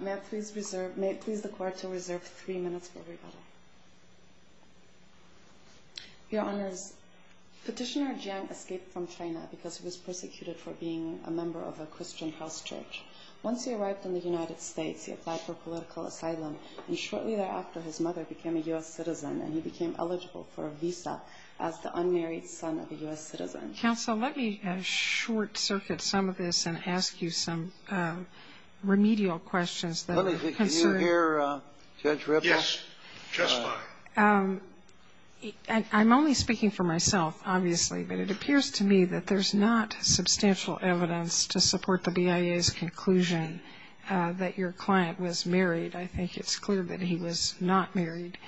May it please the Court to reserve three minutes for rebuttal. Your Honors, Petitioner Jiang escaped from China because he was persecuted for being a member of a Christian house church. Once he arrived in the United States, he applied for political asylum and shortly thereafter his mother became a U.S. citizen and he became eligible for a visa as the unmarried son of a U.S. citizen. Counsel, let me short circuit some of this and ask you some remedial questions that are concerned. Can you hear Judge Ripple? Yes, just fine. I'm only speaking for myself, obviously, but it appears to me that there's not substantial evidence to support the BIA's conclusion that your client was married. I think it's clear that he was not married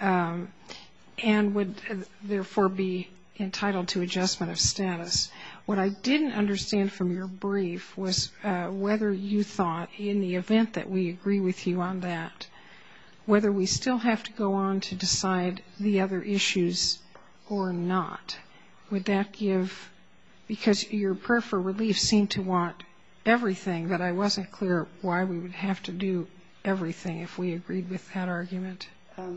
and would therefore be entitled to adjustment of status. What I didn't understand from your brief was whether you thought, in the event that we agree with you on that, whether we still have to go on to decide the other issues or not. Because your prayer for relief seemed to want everything, but I wasn't clear why we would have to do everything if we agreed with that argument.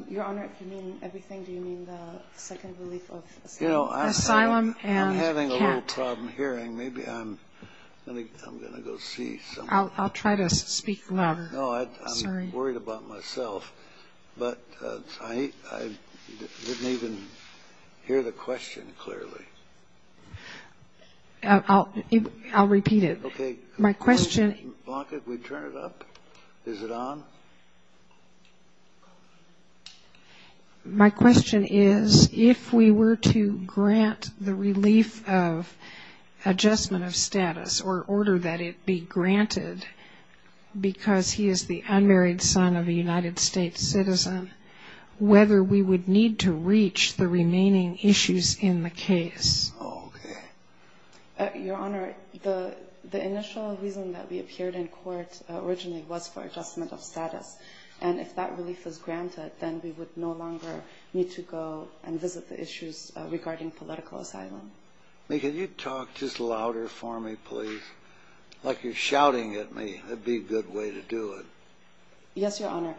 Your Honor, if you mean everything, do you mean the second relief of asylum? I'm having a little problem hearing. Maybe I'm going to go see someone. I'll try to speak louder. No, I'm worried about myself, but I didn't even hear the question clearly. I'll repeat it. Okay. Blanca, can we turn it up? Is it on? My question is if we were to grant the relief of adjustment of status or order that it be granted because he is the unmarried son of a United States citizen, whether we would need to reach the remaining issues in the case? Okay. Your Honor, the initial reason that we appeared in court originally was for adjustment of status, and if that relief is granted, then we would no longer need to go and visit the issues regarding political asylum. May, can you talk just louder for me, please, like you're shouting at me? That would be a good way to do it. Yes, Your Honor.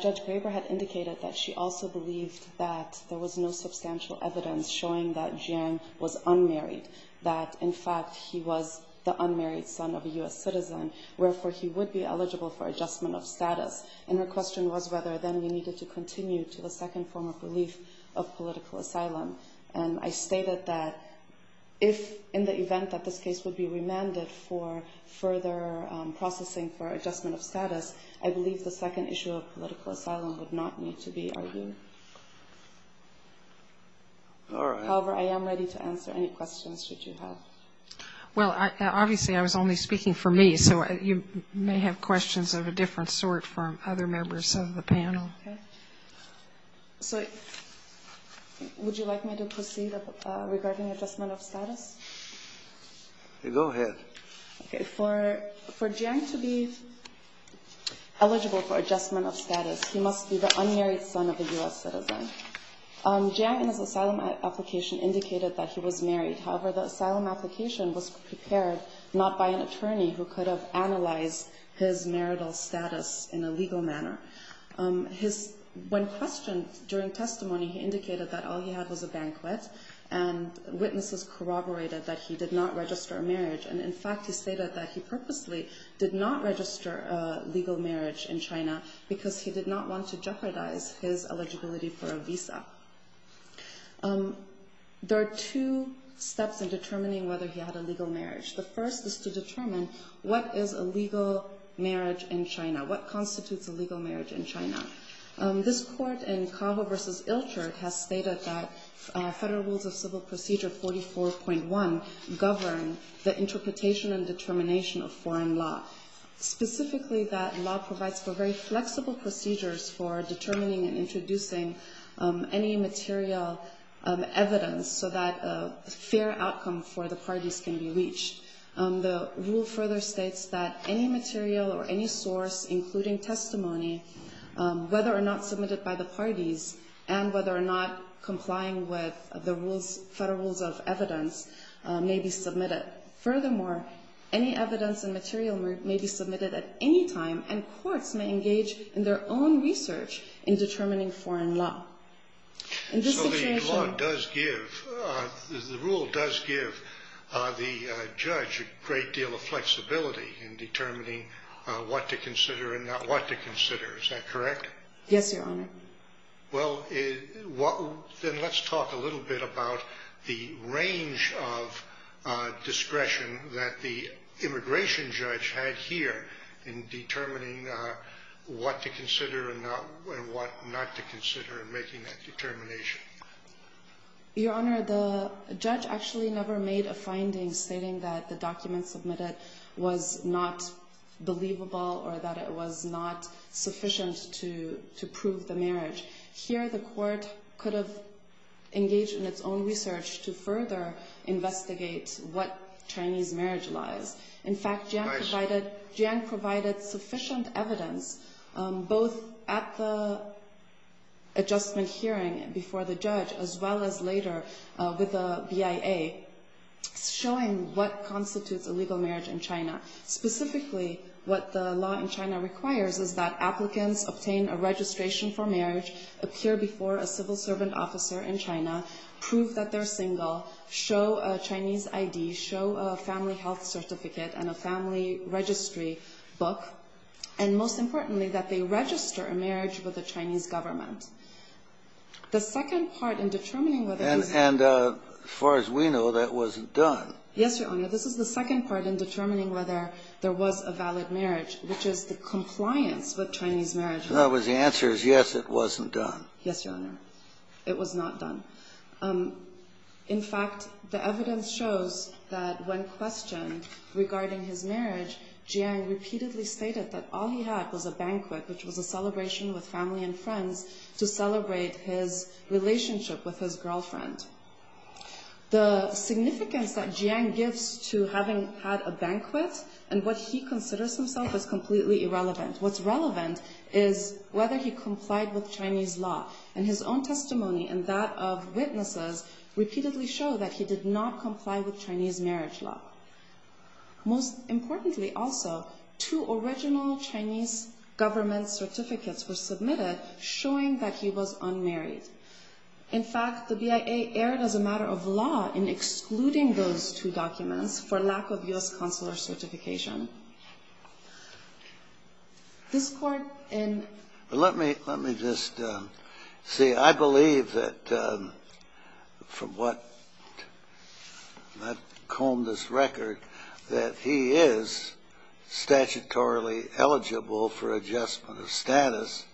Judge Graber had indicated that she also believed that there was no substantial evidence showing that Jiang was unmarried, that, in fact, he was the unmarried son of a U.S. citizen, wherefore he would be eligible for adjustment of status, and her question was whether then we needed to continue to the second form of relief of political asylum. And I stated that if, in the event that this case would be remanded for further processing for adjustment of status, I believe the second issue of political asylum would not need to be argued. However, I am ready to answer any questions that you have. Well, obviously I was only speaking for me, so you may have questions of a different sort from other members of the panel. So would you like me to proceed regarding adjustment of status? Go ahead. For Jiang to be eligible for adjustment of status, he must be the unmarried son of a U.S. citizen. Jiang, in his asylum application, indicated that he was married. However, the asylum application was prepared not by an attorney who could have analyzed his marital status in a legal manner. When questioned during testimony, he indicated that all he had was a banquet, and witnesses corroborated that he did not register a marriage, and in fact he stated that he purposely did not register a legal marriage in China because he did not want to jeopardize his eligibility for a visa. There are two steps in determining whether he had a legal marriage. The first is to determine what is a legal marriage in China. What constitutes a legal marriage in China? This court in Cavo v. Ilchert has stated that Federal Rules of Civil Procedure 44.1 govern the interpretation and determination of foreign law, specifically that law provides for very flexible procedures for determining and introducing any material evidence so that a fair outcome for the parties can be reached. The rule further states that any material or any source, including testimony, whether or not submitted by the parties and whether or not complying with the Federal Rules of Evidence may be submitted. Furthermore, any evidence and material may be submitted at any time, and courts may engage in their own research in determining foreign law. So the law does give, the rule does give the judge a great deal of flexibility in determining what to consider and not what to consider, is that correct? Yes, Your Honor. Well, then let's talk a little bit about the range of discretion that the immigration judge had here in determining what to consider and what not to consider in making that determination. Your Honor, the judge actually never made a finding stating that the document submitted was not believable or that it was not sufficient to prove the marriage. Here the court could have engaged in its own research to further investigate what Chinese marriage lies. In fact, Jiang provided sufficient evidence, both at the adjustment hearing before the judge, as well as later with the BIA, showing what constitutes a legal marriage in China. Specifically, what the law in China requires is that applicants obtain a registration for marriage, appear before a civil servant officer in China, prove that they're single, show a Chinese ID, show a family health certificate and a family registry book, and most importantly, that they register a marriage with the Chinese government. The second part in determining whether this was valid marriage. And as far as we know, that wasn't done. Yes, Your Honor. This is the second part in determining whether there was a valid marriage, which is the compliance with Chinese marriage. In other words, the answer is, yes, it wasn't done. Yes, Your Honor. It was not done. In fact, the evidence shows that when questioned regarding his marriage, Jiang repeatedly stated that all he had was a banquet, which was a celebration with family and friends, to celebrate his relationship with his girlfriend. The significance that Jiang gives to having had a banquet and what he considers himself as completely irrelevant, what's relevant is whether he complied with Chinese law. And his own testimony and that of witnesses repeatedly show that he did not comply with Chinese marriage law. Most importantly also, two original Chinese government certificates were submitted showing that he was unmarried. In fact, the BIA erred as a matter of law in excluding those two documents for lack of U.S. consular certification. Let me just say, I believe that from what I've combed this record, that he is statutorily eligible for adjustment of status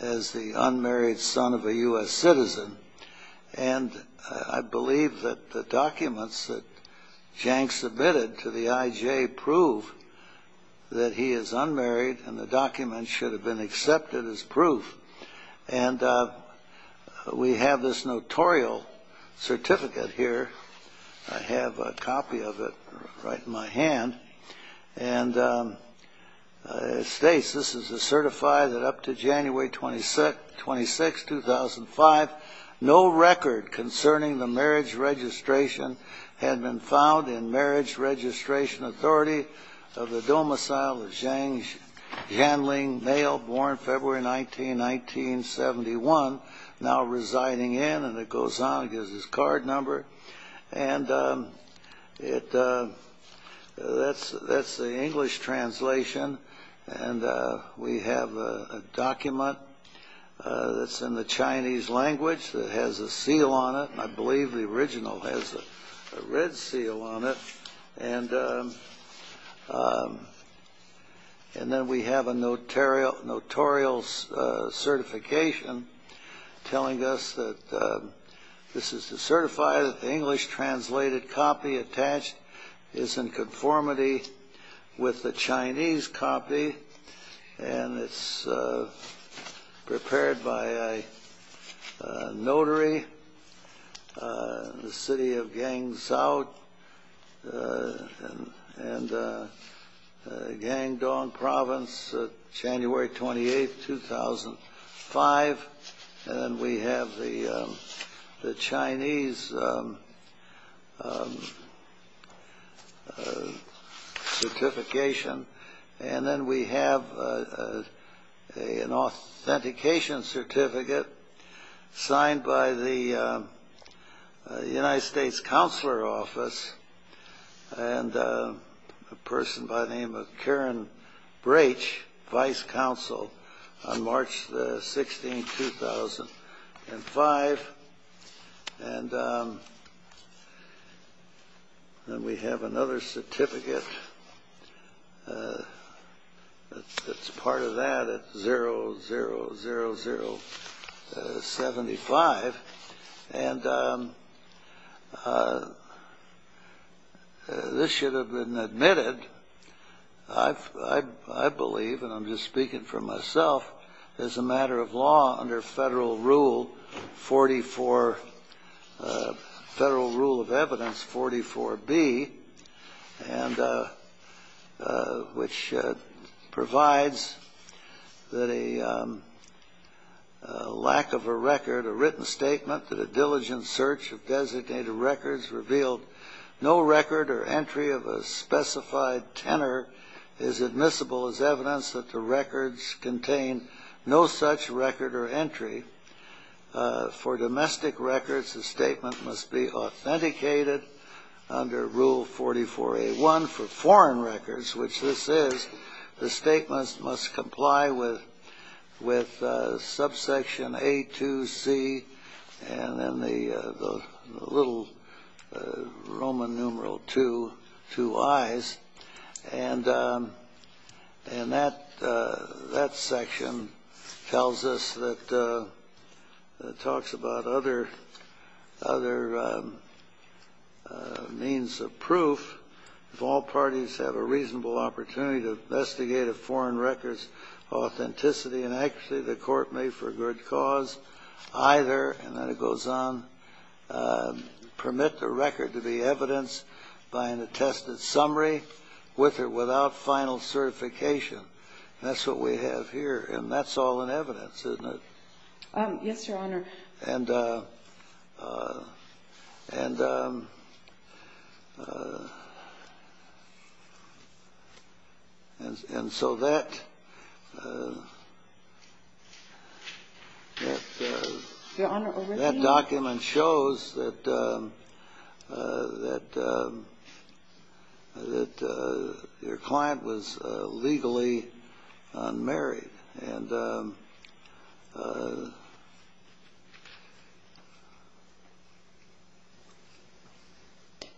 as the unmarried son of a U.S. citizen. And I believe that the documents that Jiang submitted to the IJ prove that he is unmarried, and the documents should have been accepted as proof. And we have this notorial certificate here. I have a copy of it right in my hand. And it states, this is to certify that up to January 26, 2005, no record concerning the marriage registration had been found in Marriage Registration Authority of the domicile of Jiang Ling, male, born February 19, 1971, now residing in, and it goes on and gives his card number. And that's the English translation. And we have a document that's in the Chinese language that has a seal on it. And I believe the original has a red seal on it. And then we have a notarial certification telling us that this is to certify that the English-translated copy attached is in conformity with the Chinese copy, and it's prepared by a notary, the City of Guangzhou and Guangdong Province, January 28, 2005. And then we have the Chinese certification. And then we have an authentication certificate signed by the United States Counselor Office, and a person by the name of Karen Brach, Vice Counsel, on March 16, 2005. And then we have another certificate. It's part of that, 000075. And this should have been admitted, I believe, and I'm just speaking for myself, as a matter of law under Federal Rule 44, Federal Rule of Evidence 44B. And which provides that a lack of a record, a written statement, that a diligent search of designated records revealed no record or entry of a specified tenor is admissible as evidence that the records contain no such record or entry. For domestic records, the statement must be authenticated under Rule 44A1. For foreign records, which this is, the statements must comply with subsection A2C and then the little Roman numeral II, IIIs. And that section tells us that it talks about other means of proof. If all parties have a reasonable opportunity to investigate a foreign record's authenticity and accuracy, the court may, for good cause, either, and then it goes on, permit the record to be evidenced by an attested summary, with or without final certification. And that's what we have here, and that's all in evidence, isn't it? Yes, Your Honor.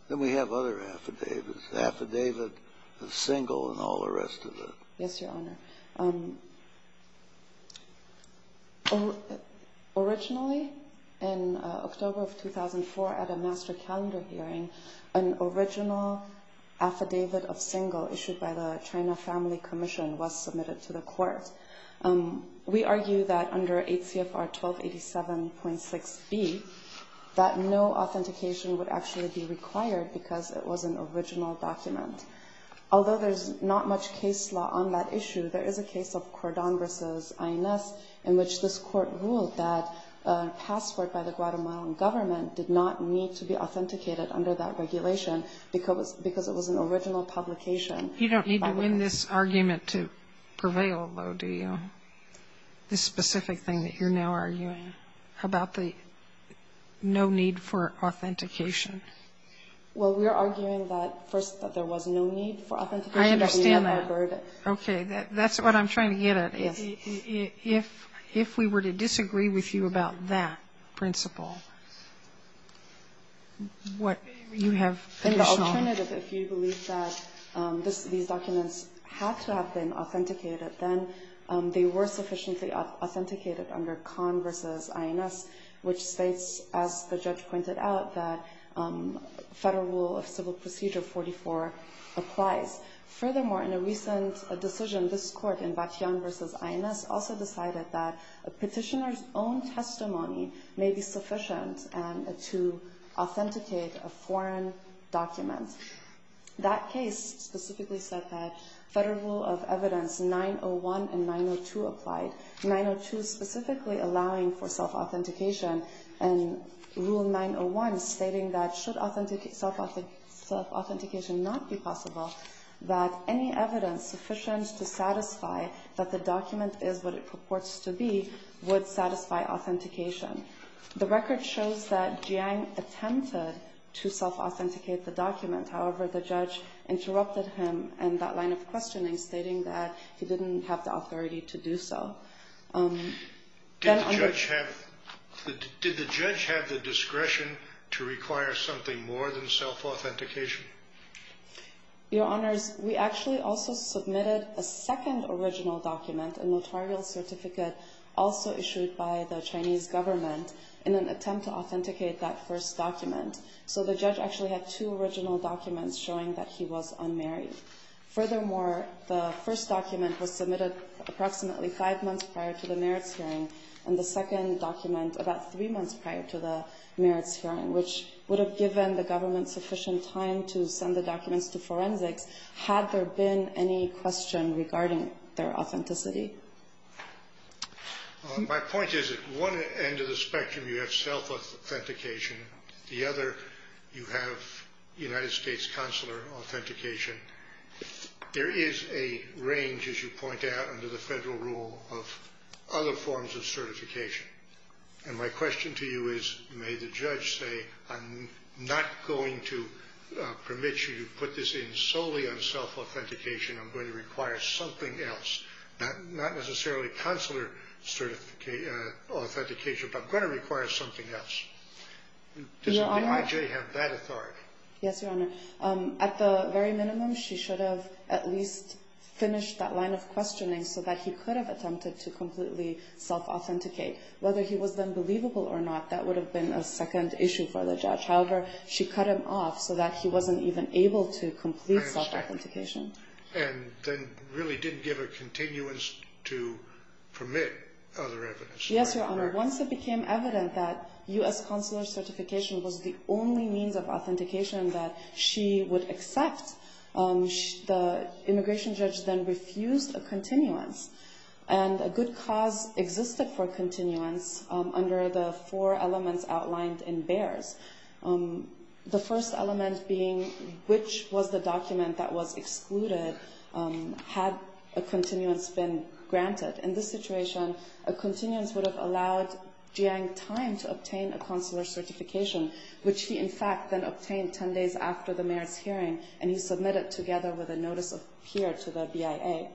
And then we have other affidavits, affidavit of single and all the rest of it. Yes, Your Honor. Originally, in October of 2004, at a master calendar hearing, an original affidavit of single issued by the China Family Commission was submitted to the court. We argue that under 8 CFR 1287.6B, that no authentication would actually be required because it was an original document. Although there's not much case law on that issue, there is a case of Cordon versus INS, in which this court ruled that a passport by the Guatemalan government did not need to be authenticated under that regulation because it was an original publication. You don't need to win this argument to prevail, though, do you? This specific thing that you're now arguing about the no need for authentication. Well, we are arguing that, first, that there was no need for authentication. I understand that. Okay. That's what I'm trying to get at. If we were to disagree with you about that principle, what you have to show me. In the alternative, if you believe that these documents had to have been authenticated, then they were sufficiently authenticated under Conn versus INS, which states, as the judge pointed out, that Federal Rule of Civil Procedure 44 applies. Furthermore, in a recent decision, this court, in Vatian versus INS, also decided that a petitioner's own testimony may be sufficient to authenticate a foreign document. That case specifically said that Federal Rule of Evidence 901 and 902 applied. 902 specifically allowing for self-authentication, and Rule 901 stating that should self-authentication not be possible, that any evidence sufficient to satisfy that the document is what it purports to be would satisfy authentication. The record shows that Jiang attempted to self-authenticate the document. Did the judge have the discretion to require something more than self-authentication? Your Honors, we actually also submitted a second original document, a notarial certificate also issued by the Chinese government, in an attempt to authenticate that first document. So the judge actually had two original documents showing that he was unmarried. Furthermore, the first document was submitted approximately five months prior to the merits hearing, and the second document about three months prior to the merits hearing, which would have given the government sufficient time to send the documents to forensics, had there been any question regarding their authenticity. My point is, at one end of the spectrum, you have self-authentication. The other, you have United States consular authentication. There is a range, as you point out, under the federal rule of other forms of certification. And my question to you is, may the judge say, I'm not going to permit you to put this in solely on self-authentication. I'm going to require something else, not necessarily consular authentication, but I'm going to require something else. Does the IJ have that authority? Yes, Your Honor. At the very minimum, she should have at least finished that line of questioning so that he could have attempted to completely self-authenticate. Whether he was then believable or not, that would have been a second issue for the judge. However, she cut him off so that he wasn't even able to complete self-authentication. And then really didn't give a continuance to permit other evidence. Yes, Your Honor. Once it became evident that U.S. consular certification was the only means of authentication that she would accept, the immigration judge then refused a continuance. And a good cause existed for continuance under the four elements outlined in BEARS. The first element being, which was the document that was excluded had a continuance been granted. In this situation, a continuance would have allowed Jiang time to obtain a consular certification, which he, in fact, then obtained 10 days after the mayor's hearing, and he submitted together with a notice of peer to the BIA.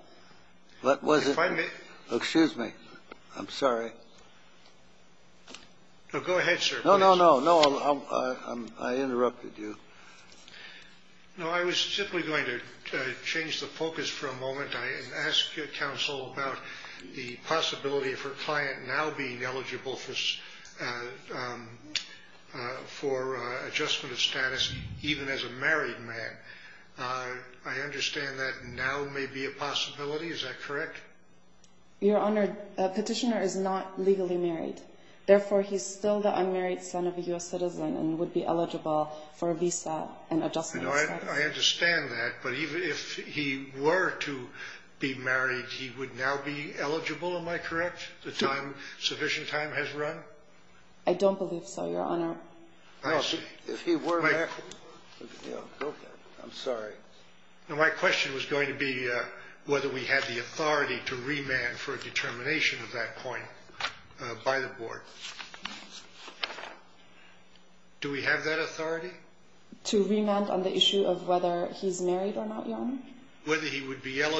What was it? Excuse me. I'm sorry. No, go ahead, sir. No, no, no. I interrupted you. No, I was simply going to change the focus for a moment and ask counsel about the possibility of her client now being eligible for adjustment of status, even as a married man. I understand that now may be a possibility. Is that correct? Your Honor, a petitioner is not legally married. Therefore, he's still the unmarried son of a U.S. citizen and would be eligible for a visa and adjustment of status. I understand that, but even if he were to be married, he would now be eligible. Am I correct, the time, sufficient time has run? I don't believe so, Your Honor. No, if he were married. I'm sorry. My question was going to be whether we had the authority to remand for a determination of that point by the board. Do we have that authority? To remand on the issue of whether he's married or not, Your Honor? I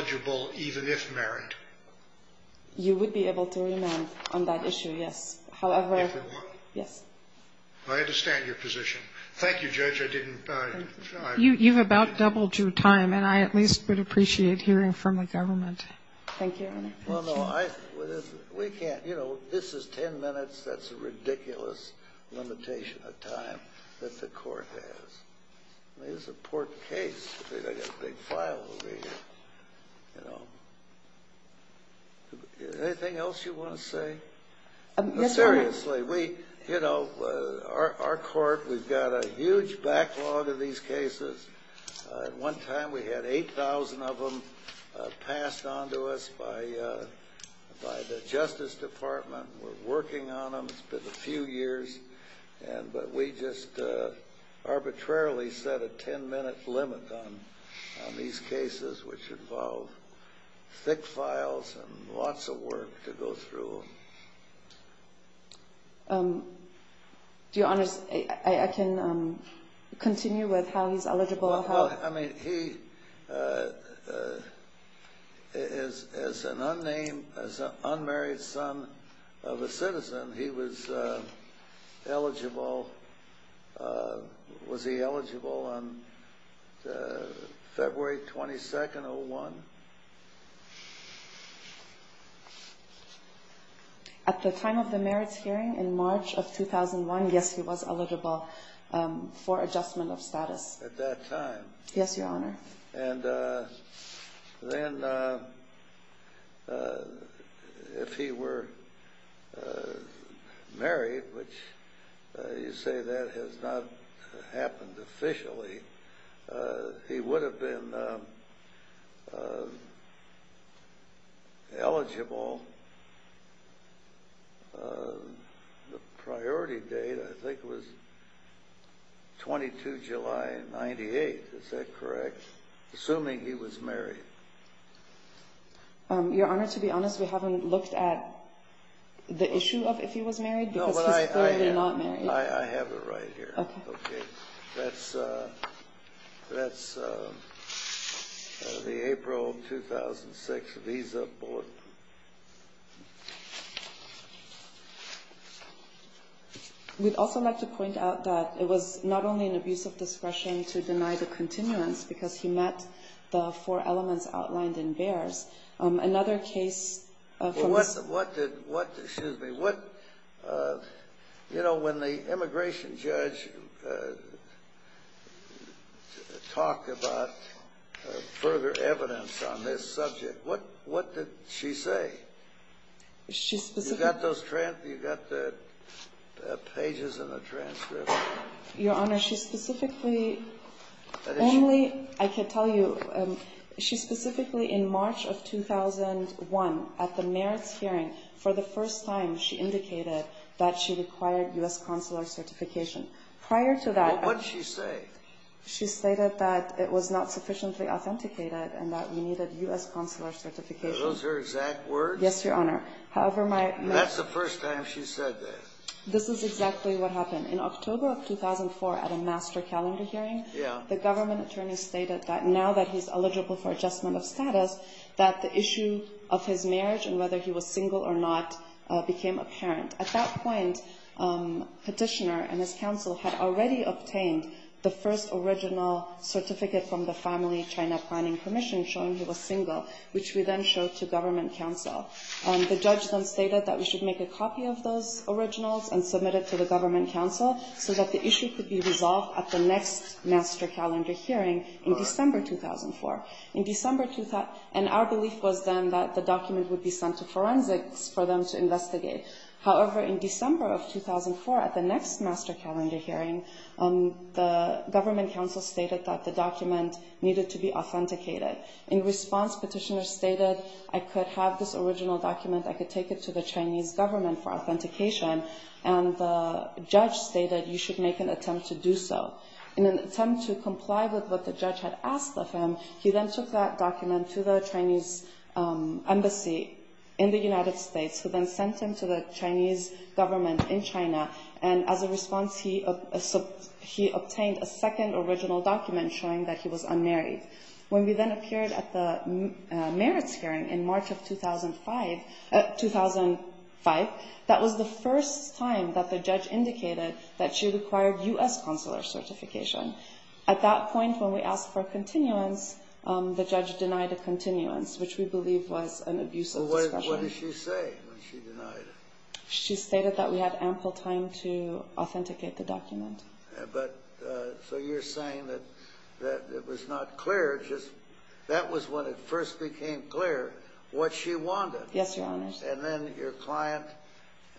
understand your position. Thank you, Judge. You've about doubled your time, and I at least would appreciate hearing from the government. Thank you, Your Honor. Well, no, we can't. You know, this is 10 minutes. That's a ridiculous limitation of time that the court has. I mean, it's an important case. Anything else you want to say? No, Your Honor. Seriously, you know, our court, we've got a huge backlog of these cases. At one time, we had 8,000 of them passed on to us by the Justice Department. We're working on them. It's been a few years, but we just arbitrarily set a 10-minute limit on these cases, which involve thick files and lots of work to go through them. Your Honor, I can continue with how he's eligible. Well, I mean, he is an unnamed, unmarried son of a citizen. He was eligible. Was he eligible on February 22nd, 2001? At the time of the merits hearing in March of 2001, yes, he was eligible for adjustment of status. At that time? Yes, Your Honor. And then if he were married, which you say that has not happened officially, he would have been eligible until the priority date, I think it was 22 July 98, is that correct? Assuming he was married. Your Honor, to be honest, we haven't looked at the issue of if he was married because he's clearly not married. I have it right here. That's the April 2006 visa bulletin. We'd also like to point out that it was not only an abuse of discretion to deny the continuance because he met the four elements outlined in Bayer's. Another case... When the immigration judge talked about further evidence on this subject, what did she say? You've got those pages in the transcript. Your Honor, she specifically... For the first time, she indicated that she required U.S. consular certification. Prior to that... What did she say? She stated that it was not sufficiently authenticated and that we needed U.S. consular certification. Are those her exact words? Yes, Your Honor. This is exactly what happened. In October of 2004, at a master calendar hearing, the government attorney stated that now that he's eligible for adjustment of status, that the issue of his marriage and whether he was single or not became apparent. At that point, Petitioner and his counsel had already obtained the first original certificate from the Family China Planning Commission showing he was single, which we then showed to government counsel. The judge then stated that we should make a copy of those originals and submit it to the government counsel so that the issue could be resolved at the next master calendar hearing in December 2004. Our belief was then that the document would be sent to forensics for them to investigate. However, in December of 2004, at the next master calendar hearing, the government counsel stated that the document needed to be authenticated. In response, Petitioner stated, I could have this original document. I could take it to the Chinese government for authentication. And the judge stated, you should make an attempt to do so. In an attempt to comply with what the judge had asked of him, he then took that document to the Chinese embassy in the United States, who then sent him to the Chinese government in China. And as a response, he obtained a second original document showing that he was unmarried. When we then appeared at the merits hearing in March of 2005, that was the first time that the judge indicated that she required U.S. consular certification. At that point, when we asked for continuance, the judge denied a continuance, which we believe was an abuse of discretion. Well, what did she say when she denied it? She stated that we had ample time to authenticate the document. But so you're saying that it was not clear, just that was when it first became clear what she wanted. Yes, Your Honors. And then your client,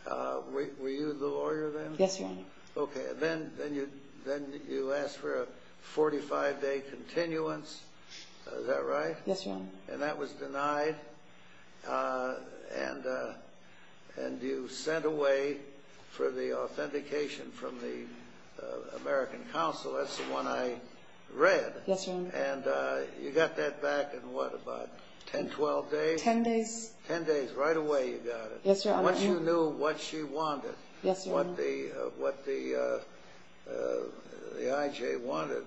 were you the lawyer then? Yes, Your Honor. Okay. Then you asked for a 45-day continuance, is that right? Yes, Your Honor. And that was denied? And you sent away for the authentication from the American Council, that's the one I read. Yes, Your Honor. And you got that back in what, about 10, 12 days? Ten days. Ten days, right away you got it. Yes, Your Honor. Once you knew what she wanted, what the IJ wanted,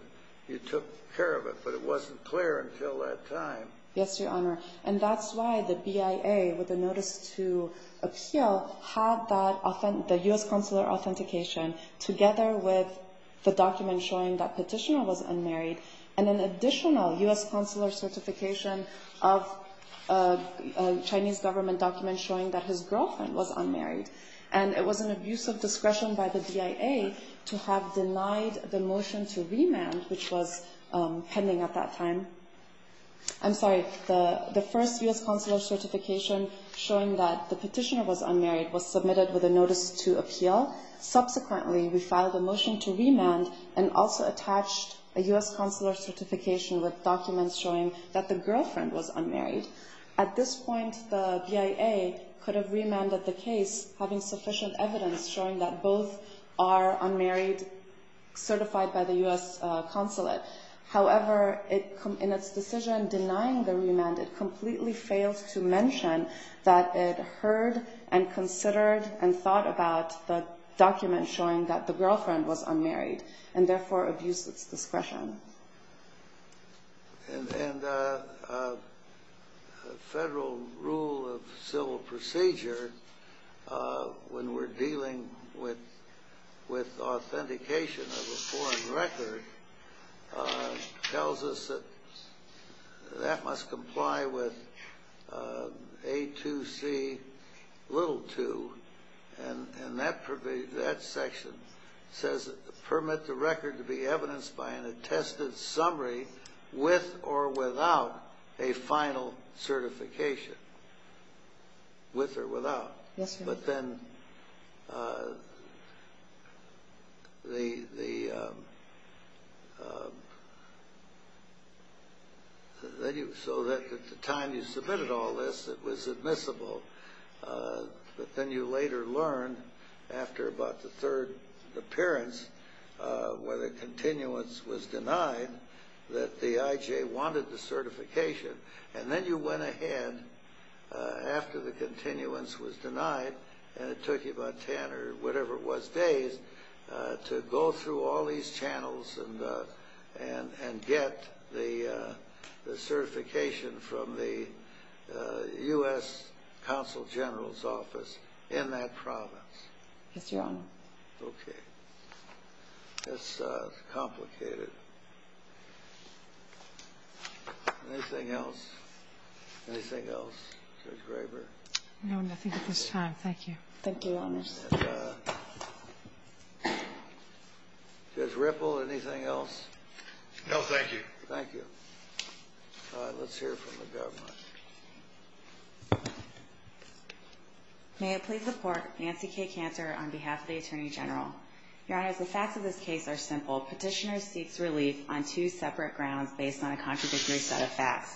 you took care of it, but it wasn't clear until that time. Yes, Your Honor. And that's why the BIA, with the notice to appeal, had the U.S. consular authentication together with the document showing that Petitioner was unmarried and an additional U.S. consular certification of a Chinese government document showing that his girlfriend was unmarried. And it was an abuse of discretion by the BIA to have denied the motion to remand, which was pending at that time. I'm sorry, the first U.S. consular certification showing that the Petitioner was unmarried was submitted with a notice to appeal. Subsequently, we filed a motion to remand and also attached a U.S. consular certification with documents showing that the girlfriend was unmarried. At this point, the BIA could have remanded the case, having sufficient evidence showing that both are unmarried, certified by the U.S. consulate. However, in its decision denying the remand, it completely failed to mention that it heard and considered and thought about the document showing that the girlfriend was unmarried, and therefore abused its discretion. And federal rule of civil procedure, when we're dealing with authentication of a foreign record, tells us that that must comply with A2C little 2, and that section says permit the record to be evidenced by an attested summary with or without a final certification. With or without. Yes, sir. But then the so that at the time you submitted all this, it was admissible. But then you later learned, after about the third appearance, where the continuance was denied, that the IJ wanted the certification. And then you went ahead, after the continuance was denied, and it took you about 10 or whatever it was days, to go through all these channels and get the certification from the U.S. Consul General's office in that province. Yes, Your Honor. Okay. That's complicated. Anything else? Anything else, Judge Graber? No, nothing at this time. Thank you. Thank you, Your Honor. And Judge Ripple, anything else? No, thank you. Thank you. All right. Let's hear from the government. May I please support Nancy K. Cantor on behalf of the Attorney General? Your Honor, the facts of this case are simple. Petitioner seeks relief on two separate grounds based on a contradictory set of facts.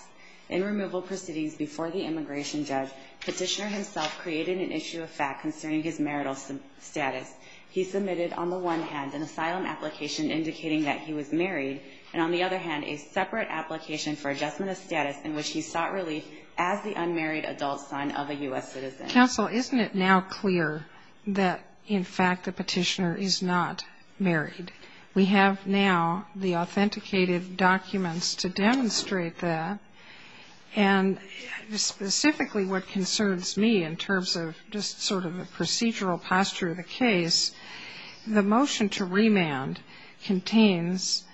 In removal proceedings before the immigration judge, petitioner himself created an issue of fact concerning his marital status. He submitted, on the one hand, an asylum application indicating that he was married, and on the other hand, a separate application for adjustment of status in which he sought relief as the unmarried adult son of a U.S. citizen. Counsel, isn't it now clear that, in fact, the petitioner is not married? We have now the authenticated documents to demonstrate that. And specifically what concerns me in terms of just sort of the procedural posture of the case, the motion to remand contains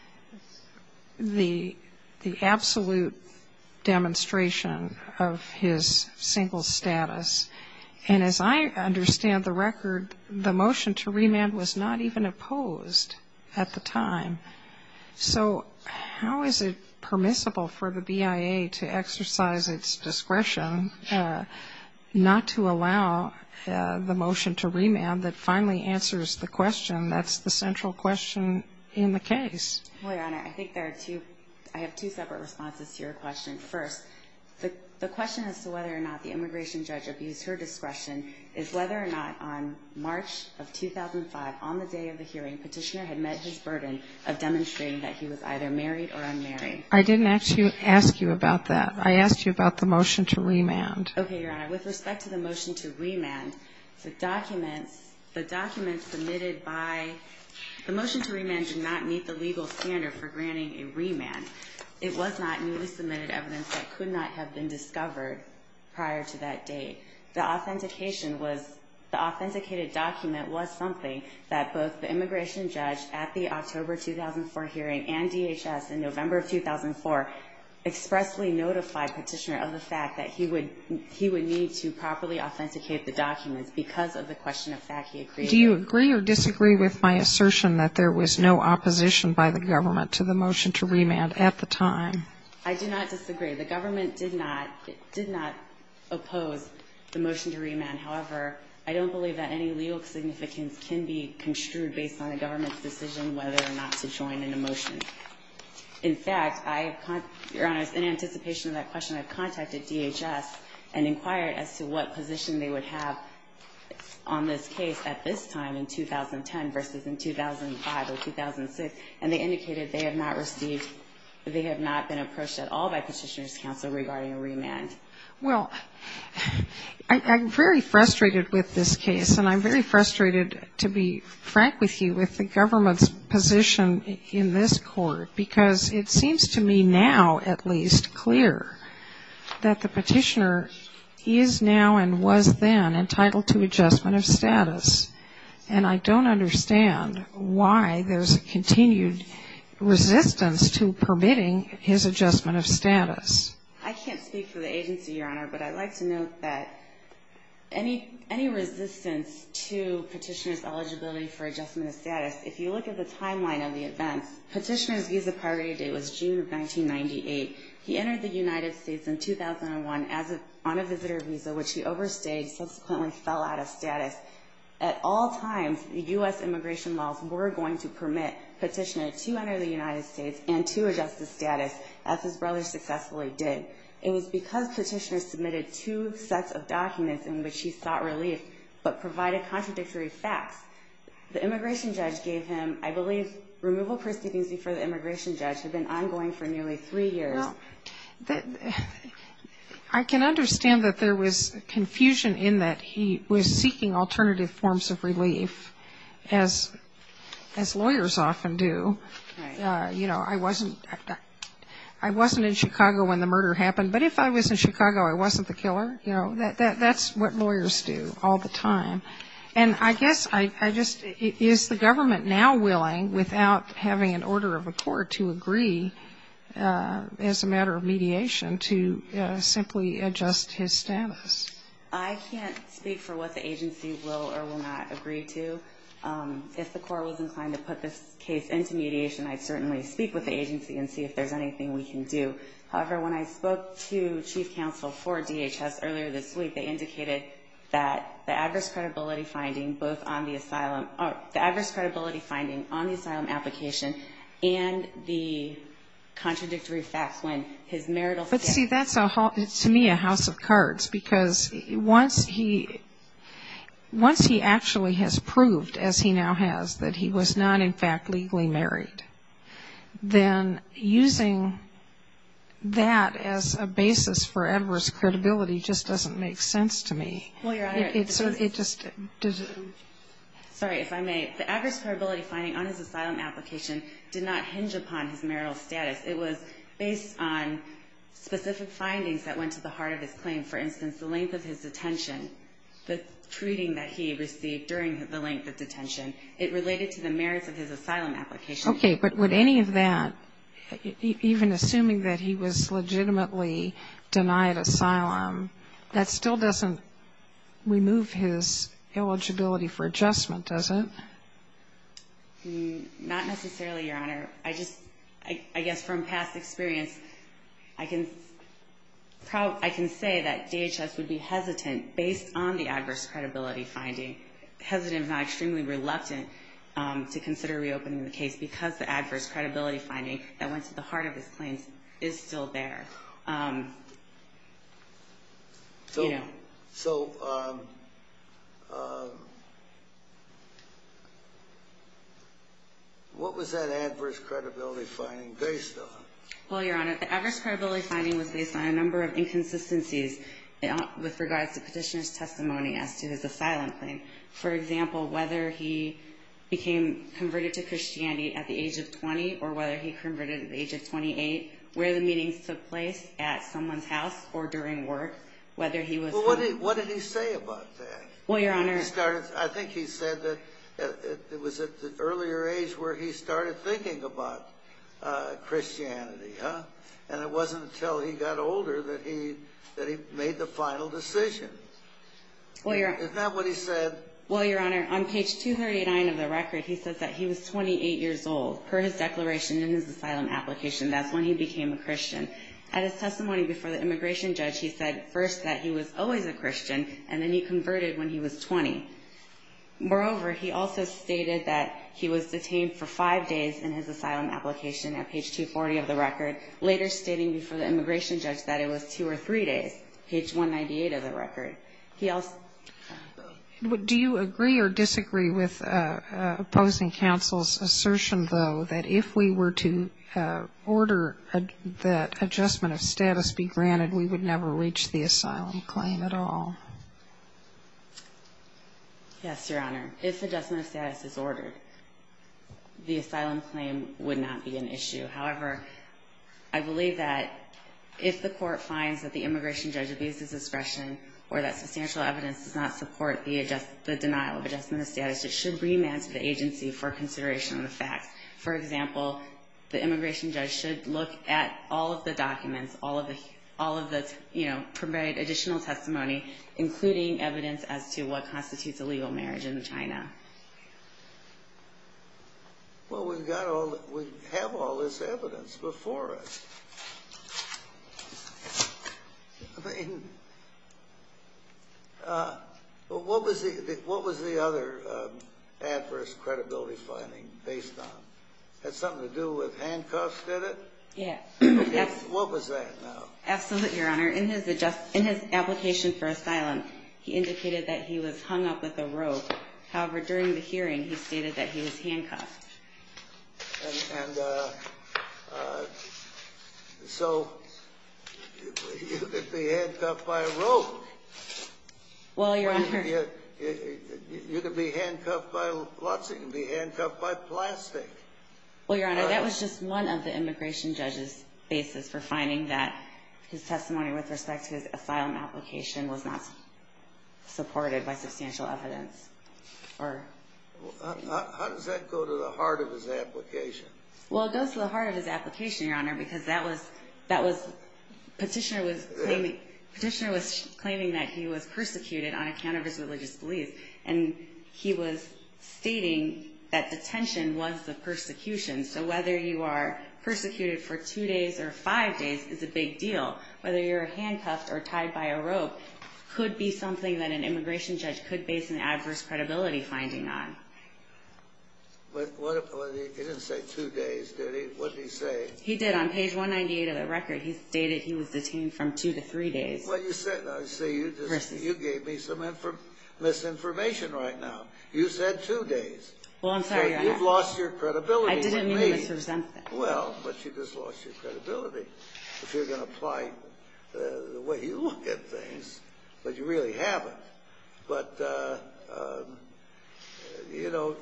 the absolute demonstration of his single status. And as I understand the record, the motion to remand was not even opposed at the time. So how is it permissible for the BIA to exercise its discretion not to allow the motion to remand that finally answers the question that's the central question in the case? Well, Your Honor, I think there are two – I have two separate responses to your question. First, the question as to whether or not the immigration judge abused her discretion is whether or not on March of 2005, on the day of the hearing, petitioner had met his burden of demonstrating that he was either married or unmarried. I didn't ask you about that. I asked you about the motion to remand. Okay, Your Honor. With respect to the motion to remand, the documents submitted by – the motion to remand did not meet the legal standard for granting a remand. It was not newly submitted evidence that could not have been discovered prior to that date. The authentication was – the authenticated document was something that both the immigration judge at the October 2004 hearing and DHS in November of 2004 expressly notified petitioner of the fact that he would – he would need to properly authenticate the documents because of the question of fact he had created. Do you agree or disagree with my assertion that there was no opposition by the government to the motion to remand at the time? I do not disagree. The government did not – did not oppose the motion to remand. However, I don't believe that any legal significance can be construed based on a government's decision whether or not to join in a motion. In fact, I – Your Honor, in anticipation of that question, I contacted DHS and inquired as to what position they would have on this case at this time in 2010 versus in 2005 or 2006, and they indicated they have not received – they have not been approached at all by Petitioner's Counsel regarding a remand. Well, I'm very frustrated with this case, and I'm very frustrated, to be frank with you, with the government's position in this court because it seems to me now at least clear that the petitioner is now and was then entitled to adjustment of status, and I don't understand why there's a continued resistance to permitting his adjustment of status. I can't speak for the agency, Your Honor, but I'd like to note that any resistance to Petitioner's eligibility for adjustment of status, if you look at the timeline of the event, Petitioner's visa priority date was June of 1998. He entered the United States in 2001 on a visitor visa, which he overstayed, and he subsequently fell out of status. At all times, U.S. immigration laws were going to permit Petitioner to enter the United States and to adjust his status, as his brother successfully did. It was because Petitioner submitted two sets of documents in which he sought relief but provided contradictory facts. The immigration judge gave him, I believe, removal proceedings before the immigration judge had been ongoing for nearly three years. Well, I can understand that there was confusion in that he was seeking alternative forms of relief, as lawyers often do. You know, I wasn't in Chicago when the murder happened, but if I was in Chicago, I wasn't the killer. You know, that's what lawyers do all the time. And I guess I just, is the government now willing, without having an order of a court, to agree as a matter of mediation to simply adjust his status? I can't speak for what the agency will or will not agree to. If the court was inclined to put this case into mediation, I'd certainly speak with the agency and see if there's anything we can do. However, when I spoke to chief counsel for DHS earlier this week, they indicated that the adverse credibility finding both on the asylum, the adverse credibility finding on the asylum application and the contradictory facts when his marital status. But, see, that's, to me, a house of cards. Because once he actually has proved, as he now has, that he was not, in fact, legally married, then using that as a basis for adverse credibility just doesn't make sense to me. Well, Your Honor, it just doesn't. Sorry, if I may. The adverse credibility finding on his asylum application did not hinge upon his marital status. It was based on specific findings that went to the heart of his claim. For instance, the length of his detention, the treating that he received during the length of detention. It related to the merits of his asylum application. Okay, but would any of that, even assuming that he was legitimately denied asylum, that still doesn't remove his eligibility for adjustment, does it? Not necessarily, Your Honor. I just, I guess from past experience, I can say that DHS would be hesitant, based on the adverse credibility finding, hesitant, if not extremely reluctant, to consider reopening the case because the adverse credibility finding that went to the heart of his claims is still there. So what was that adverse credibility finding based on? Well, Your Honor, the adverse credibility finding was based on a number of inconsistencies with regards to petitioner's testimony as to his asylum claim. For example, whether he became converted to Christianity at the age of 20 or whether he converted at the age of 28, where the meetings took place at someone's house or during work, whether he was home. Well, what did he say about that? Well, Your Honor. I think he said that it was at an earlier age where he started thinking about Christianity, huh? And it wasn't until he got older that he made the final decision. Isn't that what he said? Well, Your Honor, on page 239 of the record, he says that he was 28 years old. Per his declaration in his asylum application, that's when he became a Christian. At his testimony before the immigration judge, he said first that he was always a Christian, and then he converted when he was 20. Moreover, he also stated that he was detained for five days in his asylum application at page 240 of the record, later stating before the immigration judge that it was two or three days, page 198 of the record. He also ---- Do you agree or disagree with opposing counsel's assertion, though, that if we were to order that adjustment of status be granted, we would never reach the asylum claim at all? Yes, Your Honor. If adjustment of status is ordered, the asylum claim would not be an issue. However, I believe that if the court finds that the immigration judge abuses discretion or that substantial evidence does not support the denial of adjustment of status, it should remand to the agency for consideration of the facts. For example, the immigration judge should look at all of the documents, all of the prepared additional testimony, including evidence as to what constitutes a legal marriage in China. Well, we have all this evidence before us. I mean, what was the other adverse credibility finding based on? Had something to do with handcuffs, did it? What was that now? Absolutely, Your Honor. In his application for asylum, he indicated that he was hung up with a rope. However, during the hearing, he stated that he was handcuffed. And so you could be handcuffed by a rope. Well, Your Honor. You could be handcuffed by lots of things. You could be handcuffed by plastic. Well, Your Honor, that was just one of the immigration judge's basis for finding that his testimony with respect to his asylum application was not supported by substantial evidence. How does that go to the heart of his application? Well, it goes to the heart of his application, Your Honor, because that was petitioner was claiming that he was persecuted on account of his religious beliefs. And he was stating that detention was the persecution. So whether you are persecuted for two days or five days is a big deal. Whether you're handcuffed or tied by a rope could be something that an immigration judge could base an adverse credibility finding on. But he didn't say two days, did he? What did he say? He did. On page 198 of the record, he stated he was detained from two to three days. Well, you gave me some misinformation right now. You said two days. Well, I'm sorry, Your Honor. You've lost your credibility. I didn't mean to misrepresent that. Well, but you just lost your credibility. If you're going to apply the way you look at things, but you really haven't. But, you know,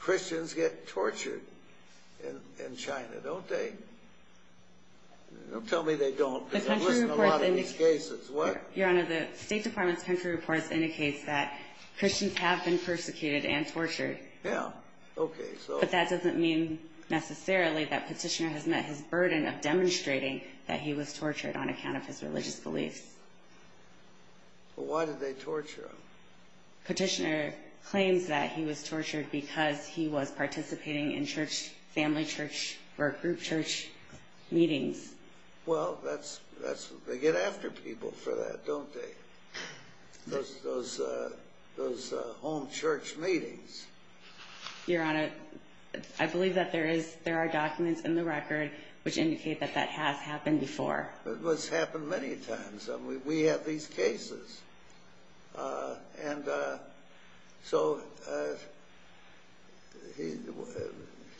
Christians get tortured in China, don't they? Don't tell me they don't because I've listened to a lot of these cases. Your Honor, the State Department's country reports indicates that Christians have been persecuted and tortured. Yeah, okay. But that doesn't mean necessarily that Petitioner has met his burden of demonstrating that he was tortured on account of his religious beliefs. Well, why did they torture him? Petitioner claims that he was tortured because he was participating in church, family church or group church meetings. Well, they get after people for that, don't they? Those home church meetings. Your Honor, I believe that there are documents in the record which indicate that that has happened before. Well, it's happened many times. We have these cases. And so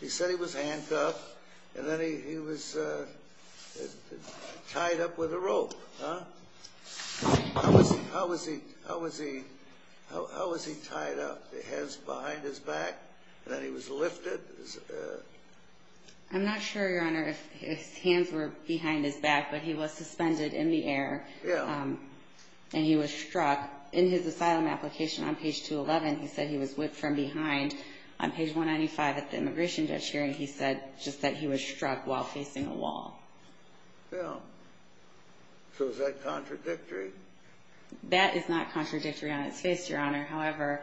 he said he was handcuffed, and then he was tied up with a rope. How was he tied up? The hands behind his back? And then he was lifted? I'm not sure, Your Honor, if his hands were behind his back, but he was suspended in the air and he was struck. In his asylum application on page 211, he said he was whipped from behind. On page 195 at the immigration judge hearing, he said just that he was struck while facing a wall. Yeah. So is that contradictory? That is not contradictory on its face, Your Honor. However,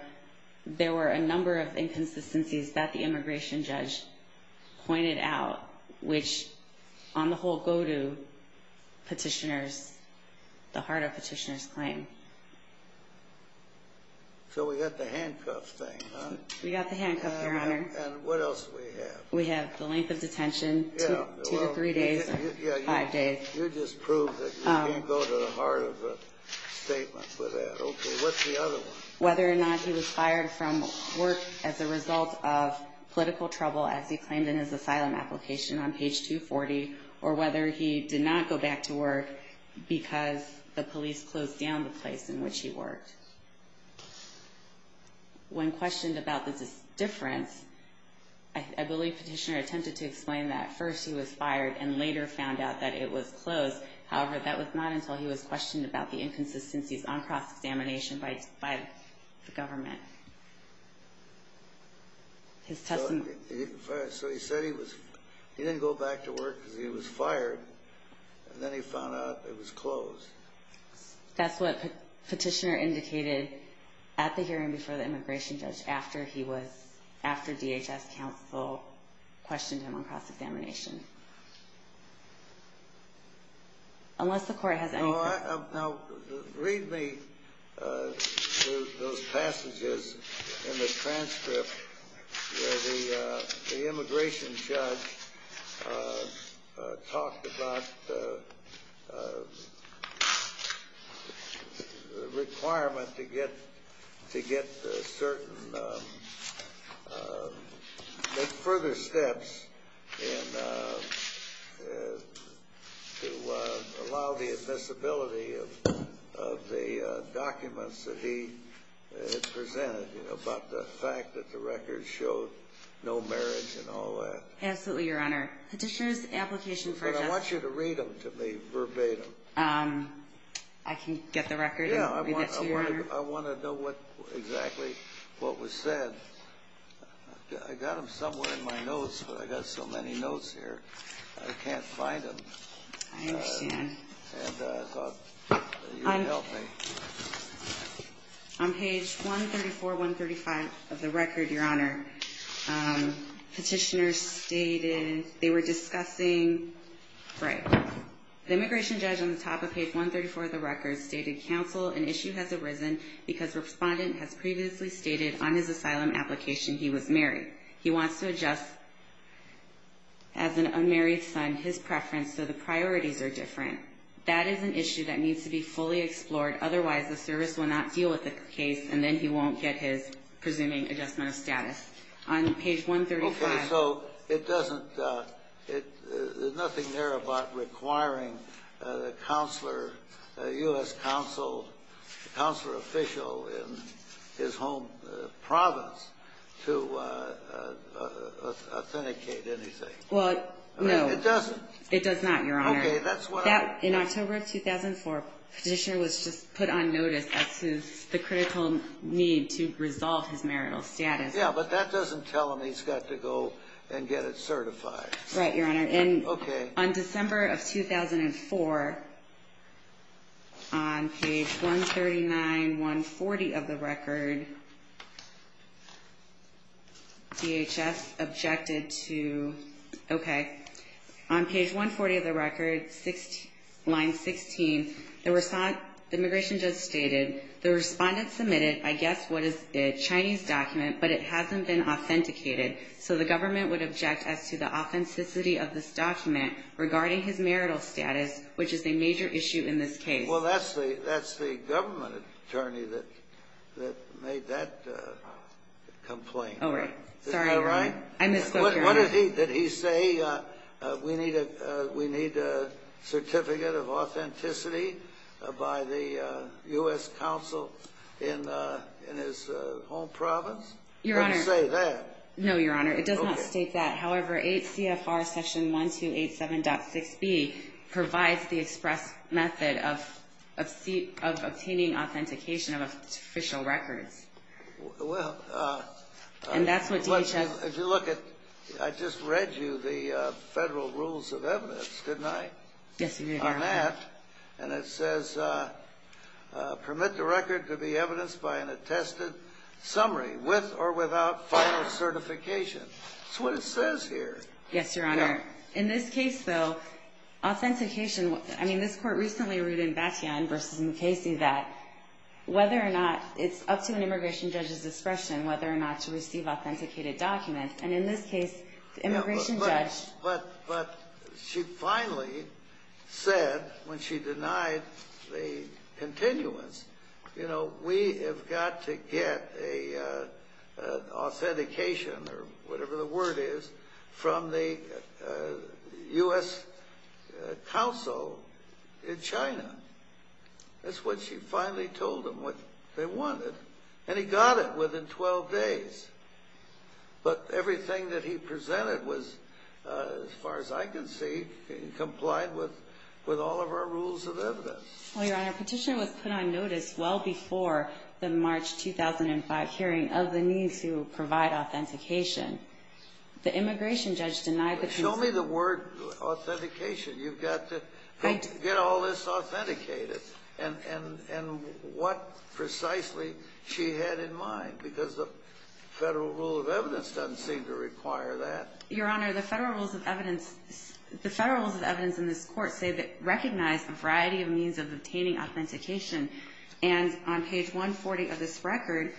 there were a number of inconsistencies that the immigration judge pointed out which, on the whole, go to petitioners, the heart of petitioners' claim. So we got the handcuff thing, huh? We got the handcuff, Your Honor. And what else do we have? We have the length of detention, two to three days or five days. You just proved that you didn't go to the heart of the statement for that. Okay. What's the other one? Whether or not he was fired from work as a result of political trouble, as he claimed in his asylum application on page 240, or whether he did not go back to work because the police closed down the place in which he worked. When questioned about the difference, I believe Petitioner attempted to explain that at first he was fired and later found out that it was closed. However, that was not until he was questioned about the inconsistencies on cross-examination by the government. So he said he didn't go back to work because he was fired, and then he found out it was closed. That's what Petitioner indicated at the hearing before the immigration judge after DHS counsel questioned him on cross-examination. Unless the Court has anything else. Now, read me those passages in the transcript where the immigration judge talked about the requirement to get certain further steps to allow the admissibility of the documents that he had presented about the fact that the records showed no marriage and all that. Absolutely, Your Honor. Petitioner's application for adjustment. I want you to read them to me verbatim. I can get the record and read it to you, Your Honor. I want to know exactly what was said. I got them somewhere in my notes, but I got so many notes here, I can't find them. I understand. And I thought you would help me. On page 134, 135 of the record, Your Honor, Petitioner stated they were discussing, right. The immigration judge on the top of page 134 of the record stated, Counsel, an issue has arisen because Respondent has previously stated on his asylum application he was married. He wants to adjust, as an unmarried son, his preference, so the priorities are different. That is an issue that needs to be fully explored. Otherwise, the service will not deal with the case, and then he won't get his presuming adjustment of status. On page 135. Okay. So it doesn't, there's nothing there about requiring a counselor, a U.S. counsel, a counselor official in his home province to authenticate anything. Well, no. It doesn't. It does not, Your Honor. Okay. In October of 2004, Petitioner was just put on notice as to the critical need to resolve his marital status. Yeah, but that doesn't tell him he's got to go and get it certified. Right, Your Honor. Okay. And on December of 2004, on page 139, 140 of the record, DHS objected to, okay. On page 140 of the record, line 16, the immigration judge stated, the respondent submitted, I guess, what is a Chinese document, but it hasn't been authenticated. So the government would object as to the authenticity of this document regarding his marital status, which is a major issue in this case. Well, that's the government attorney that made that complaint. Oh, right. Sorry, Your Honor. I misspoke, Your Honor. What did he say? We need a certificate of authenticity by the U.S. Council in his home province? Your Honor. He didn't say that. No, Your Honor. It does not state that. However, 8 CFR Section 1287.6b provides the express method of obtaining authentication of official records. Well, And that's what DHS If you look at, I just read you the Federal Rules of Evidence, didn't I? Yes, you did, Your Honor. On that. And it says, permit the record to be evidenced by an attested summary with or without final certification. That's what it says here. Yes, Your Honor. In this case, though, authentication, I mean, this Court recently ruled in Batyan v. Mukasey that it's up to an immigration judge's discretion whether or not to receive authenticated documents. And in this case, the immigration judge But she finally said when she denied the continuance, you know, we have got to get an authentication or whatever the word is from the U.S. Council in China. That's what she finally told them what they wanted. And he got it within 12 days. But everything that he presented was, as far as I can see, complied with all of our Rules of Evidence. Well, Your Honor, petition was put on notice well before the March 2005 hearing of the need to provide authentication. The immigration judge denied the Show me the word authentication. You've got to get all this authenticated. And what precisely she had in mind, because the Federal Rule of Evidence doesn't seem to require that. Your Honor, the Federal Rules of Evidence in this Court say that recognize a variety of means of obtaining authentication. And on page 140 of this record,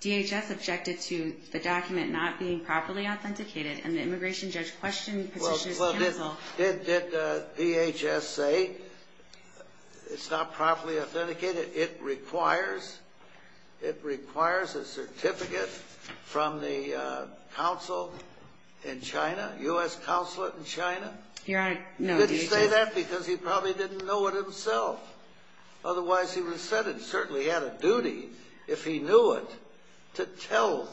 DHS objected to the document not being properly authenticated, and the immigration judge questioned Petitioner's counsel. Did DHS say it's not properly authenticated? It requires a certificate from the Council in China, U.S. Council in China? Your Honor, no. Did he say that because he probably didn't know it himself? Otherwise, he would have said it and certainly had a duty, if he knew it, to tell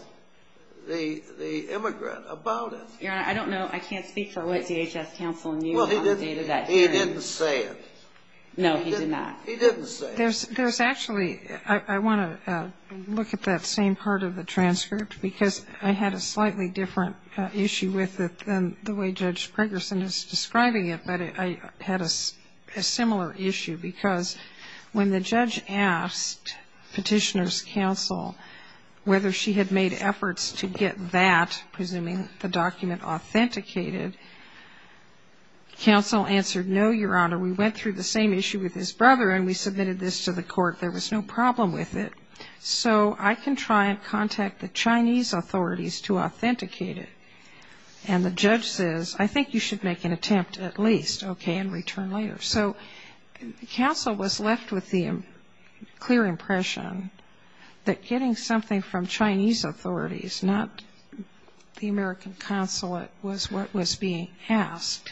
the immigrant about it. Your Honor, I don't know. I can't speak for what DHS counsel knew on the date of that hearing. Well, he didn't say it. No, he did not. He didn't say it. There's actually ‑‑ I want to look at that same part of the transcript, because I had a slightly different issue with it than the way Judge Pregerson is describing it, but I had a similar issue, because when the judge asked Petitioner's counsel whether she had made efforts to get that, presuming the document authenticated, counsel answered, no, Your Honor. We went through the same issue with his brother, and we submitted this to the court. There was no problem with it. So I can try and contact the Chinese authorities to authenticate it. And the judge says, I think you should make an attempt at least, okay, and return later. So counsel was left with the clear impression that getting something from Chinese authorities, not the American consulate, was what was being asked.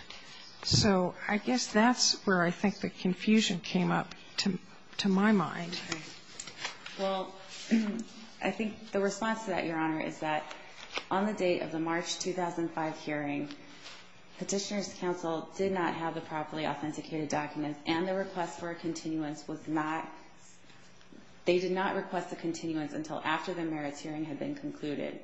So I guess that's where I think the confusion came up to my mind. Well, I think the response to that, Your Honor, is that on the date of the March 2005 hearing, Petitioner's counsel did not have the properly authenticated documents, and the request for a continuance was not ‑‑ they did not request a continuance until after the merits hearing had been concluded.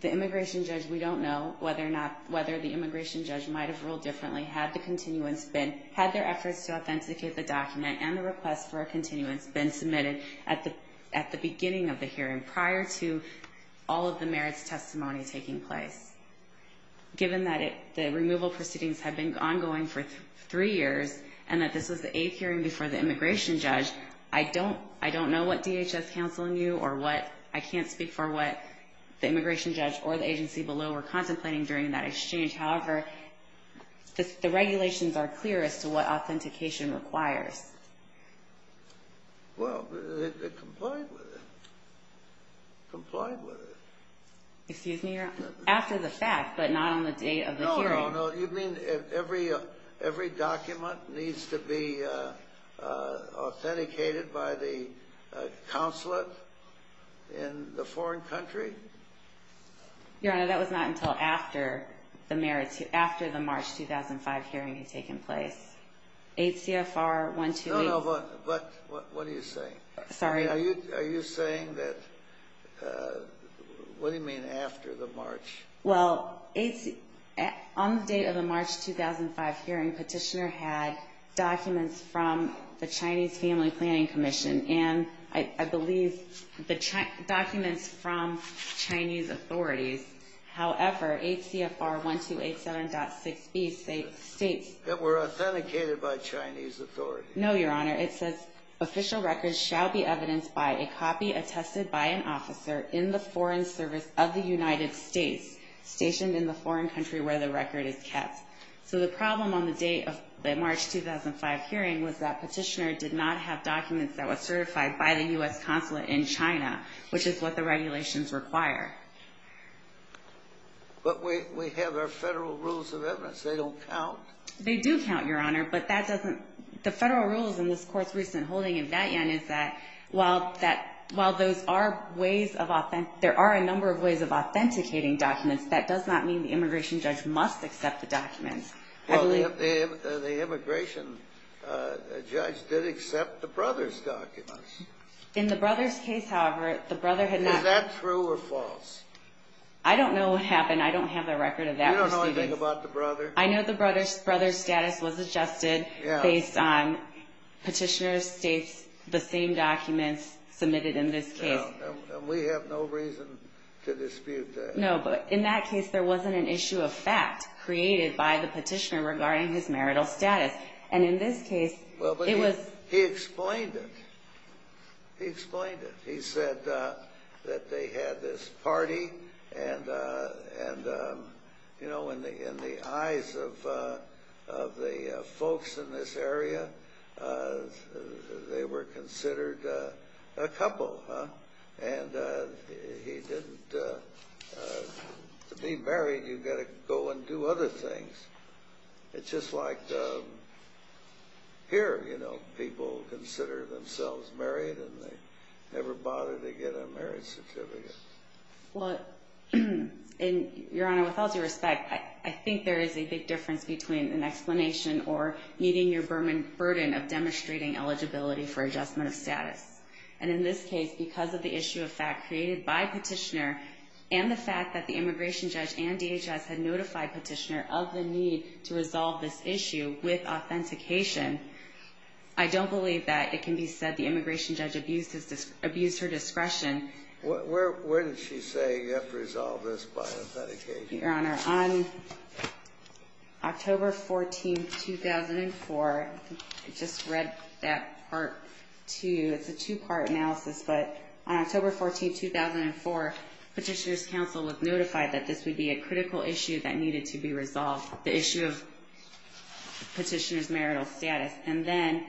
The immigration judge, we don't know whether the immigration judge might have ruled differently, had the continuance been ‑‑ had their efforts to authenticate the document and the request for a continuance been submitted at the beginning of the hearing, prior to all of the merits testimony taking place. Given that the removal proceedings had been ongoing for three years, and that this was the eighth hearing before the immigration judge, I don't know what DHS counsel knew or what ‑‑ I can't speak for what the immigration judge or the agency below were contemplating during that exchange. However, the regulations are clear as to what authentication requires. Well, they complied with it. Complied with it. Excuse me, Your Honor. After the fact, but not on the date of the hearing. No, no, no. You mean every document needs to be authenticated by the counselor in the foreign country? Your Honor, that was not until after the merits ‑‑ after the March 2005 hearing had taken place. 8 CFR 128. No, no. But what are you saying? Sorry? Are you saying that ‑‑ what do you mean after the March? Well, on the date of the March 2005 hearing, Petitioner had documents from the Chinese Family Planning Commission. And I believe the documents from Chinese authorities. However, 8 CFR 128.7.6B states ‑‑ That were authenticated by Chinese authorities. No, Your Honor. It says official records shall be evidenced by a copy attested by an officer in the foreign service of the United States, stationed in the foreign country where the record is kept. So the problem on the date of the March 2005 hearing was that Petitioner did not have documents that were certified by the U.S. consulate in China, which is what the regulations require. But we have our federal rules of evidence. They don't count. They do count, Your Honor, but that doesn't ‑‑ the federal rules in this Court's recent holding in Vatian is that while those are ways of ‑‑ there are a number of ways of authenticating documents, that does not mean the immigration judge must accept the documents. Well, the immigration judge did accept the brother's documents. In the brother's case, however, the brother had not ‑‑ Is that true or false? I don't know what happened. I don't have a record of that. You don't know anything about the brother? I know the brother's status was adjusted based on Petitioner's states, the same documents submitted in this case. And we have no reason to dispute that. No, but in that case, there wasn't an issue of fact created by the Petitioner regarding his marital status. And in this case, it was ‑‑ He explained it. He explained it. He said that they had this party and, you know, in the eyes of the folks in this area, they were considered a couple. And he didn't ‑‑ to be married, you've got to go and do other things. It's just like here, you know, people consider themselves married and they never bother to get a marriage certificate. Well, Your Honor, with all due respect, I think there is a big difference between an explanation And in this case, because of the issue of fact created by Petitioner and the fact that the immigration judge and DHS had notified Petitioner of the need to resolve this issue with authentication, I don't believe that it can be said the immigration judge abused her discretion. Where did she say you have to resolve this by authentication? Your Honor, on October 14, 2004, I just read that Part 2. It's a two‑part analysis, but on October 14, 2004, Petitioner's counsel notified that this would be a critical issue that needed to be resolved, the issue of Petitioner's marital status. And then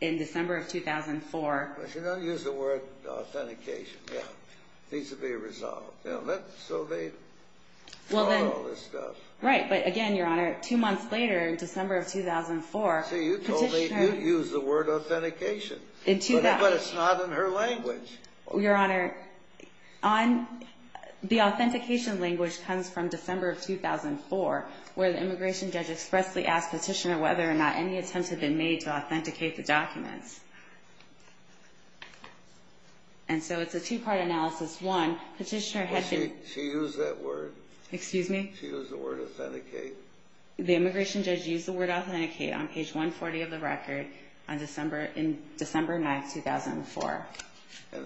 in December of 2004 ‑‑ But she doesn't use the word authentication. It needs to be resolved. So they followed all this stuff. Right, but again, Your Honor, two months later in December of 2004 ‑‑ See, you told me you'd use the word authentication. But it's not in her language. Your Honor, the authentication language comes from December of 2004, where the immigration judge expressly asked Petitioner whether or not any attempts had been made to authenticate the documents. And so it's a two‑part analysis. One, Petitioner had to ‑‑ Well, she used that word. Excuse me? She used the word authenticate. The immigration judge used the word authenticate on page 140 of the record in December 9, 2004.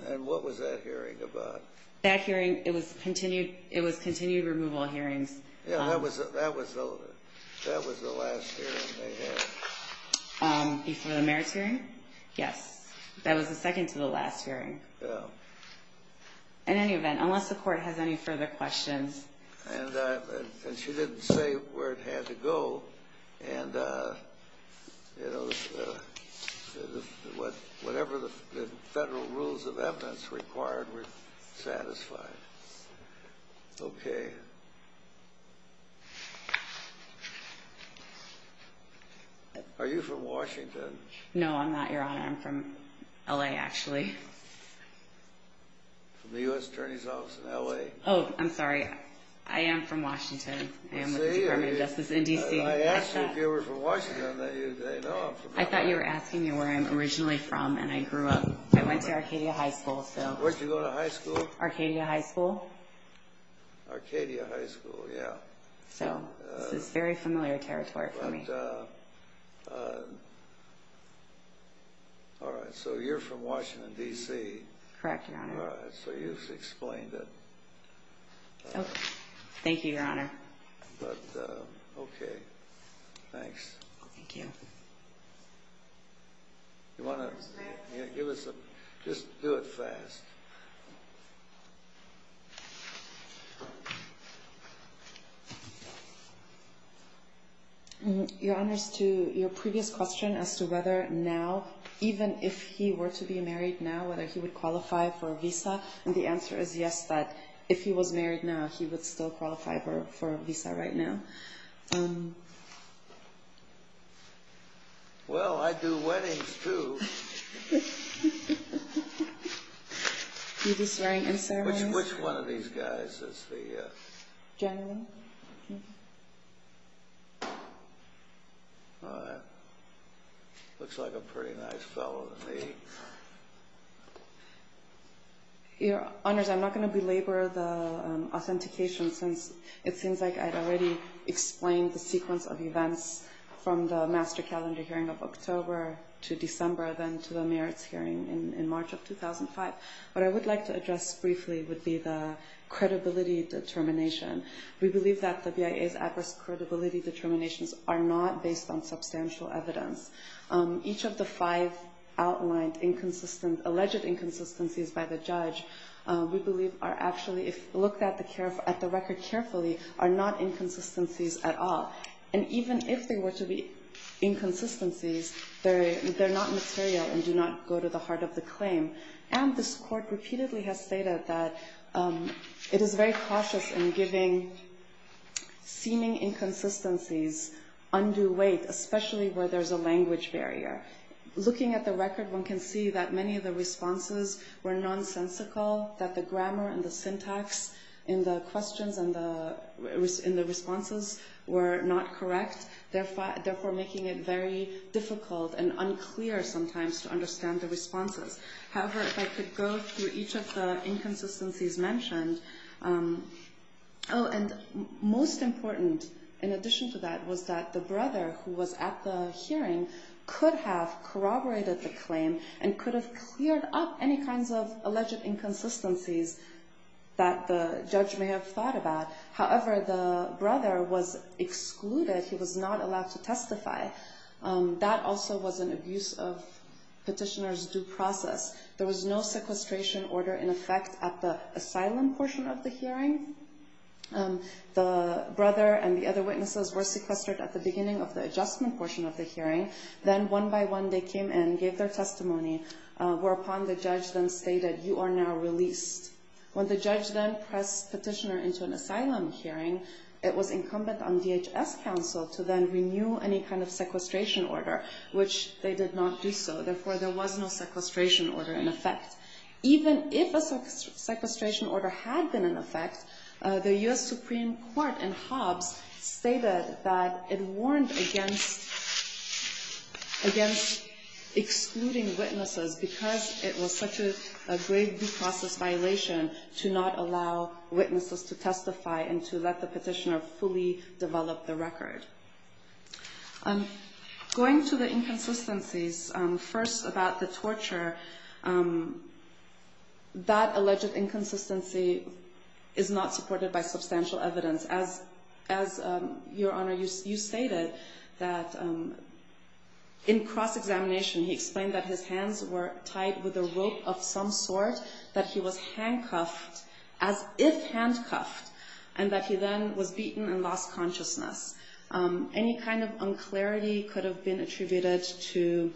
And what was that hearing about? That hearing, it was continued removal hearings. Yeah, that was the last hearing they had. Before the merits hearing? Yes. That was the second to the last hearing. Yeah. In any event, unless the Court has any further questions. And she didn't say where it had to go. And, you know, whatever the federal rules of evidence required were satisfied. Okay. Are you from Washington? No, I'm not, Your Honor. I'm from L.A., actually. From the U.S. Attorney's Office in L.A.? Oh, I'm sorry. I am from Washington. I am with the Department of Justice in D.C. I asked you if you were from Washington. I thought you were asking me where I'm originally from, and I grew up. I went to Arcadia High School, so. Where did you go to high school? Arcadia High School. Arcadia High School, yeah. So this is very familiar territory for me. All right. So you're from Washington, D.C.? Correct, Your Honor. All right. So you've explained it. Thank you, Your Honor. Okay. Thanks. Thank you. You want to give us a ñ just do it fast. Your Honor, as to your previous question as to whether now, even if he were to be married now, whether he would qualify for a visa, and the answer is yes, that if he was married now, he would still qualify for a visa right now. Well, I do weddings, too. You do swearing and ceremonies? Which one of these guys is the ñ General? All right. Looks like a pretty nice fellow to me. Your Honors, I'm not going to belabor the authentication, since it seems like I'd already explained the sequence of events from the master calendar hearing of October to December, then to the merits hearing in March of 2005. What I would like to address briefly would be the credibility determination. We believe that the BIA's adverse credibility determinations are not based on substantial evidence. Each of the five outlined alleged inconsistencies by the judge we believe are actually, if looked at the record carefully, are not inconsistencies at all. And even if they were to be inconsistencies, they're not material and do not go to the heart of the claim. And this court repeatedly has stated that it is very cautious in giving seeming inconsistencies undue weight, especially where there's a language barrier. Looking at the record, one can see that many of the responses were nonsensical, that the grammar and the syntax in the questions and the responses were not correct, therefore making it very difficult and unclear sometimes to understand the responses. However, if I could go through each of the inconsistencies mentioned. Oh, and most important, in addition to that, was that the brother who was at the hearing could have corroborated the claim and could have cleared up any kinds of alleged inconsistencies that the judge may have thought about. However, the brother was excluded. He was not allowed to testify. That also was an abuse of petitioner's due process. There was no sequestration order in effect at the asylum portion of the hearing. The brother and the other witnesses were sequestered at the beginning of the adjustment portion of the hearing. Then one by one they came in, gave their testimony, whereupon the judge then stated, When the judge then pressed petitioner into an asylum hearing, it was incumbent on DHS counsel to then renew any kind of sequestration order, which they did not do so, therefore there was no sequestration order in effect. Even if a sequestration order had been in effect, the U.S. Supreme Court in Hobbs stated that it warned against excluding witnesses because it was such a grave due process violation to not allow witnesses to testify and to let the petitioner fully develop the record. Going to the inconsistencies, first about the torture, that alleged inconsistency is not supported by substantial evidence. Your Honor, you stated that in cross-examination, he explained that his hands were tied with a rope of some sort, that he was handcuffed as if handcuffed, and that he then was beaten and lost consciousness. Any kind of unclarity could have been attributed to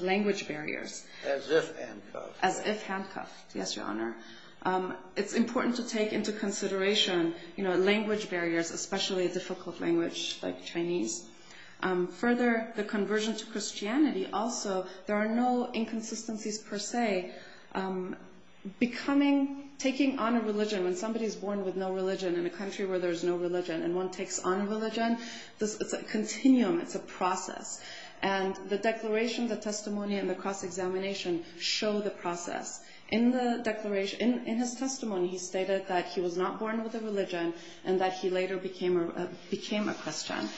language barriers. As if handcuffed. As if handcuffed, yes, Your Honor. It's important to take into consideration language barriers, especially a difficult language like Chinese. Further, the conversion to Christianity, also, there are no inconsistencies per se. Taking on a religion, when somebody is born with no religion in a country where there is no religion and one takes on religion, it's a continuum, it's a process. And the declaration, the testimony, and the cross-examination show the process. In his testimony, he stated that he was not born with a religion and that he later became a Christian.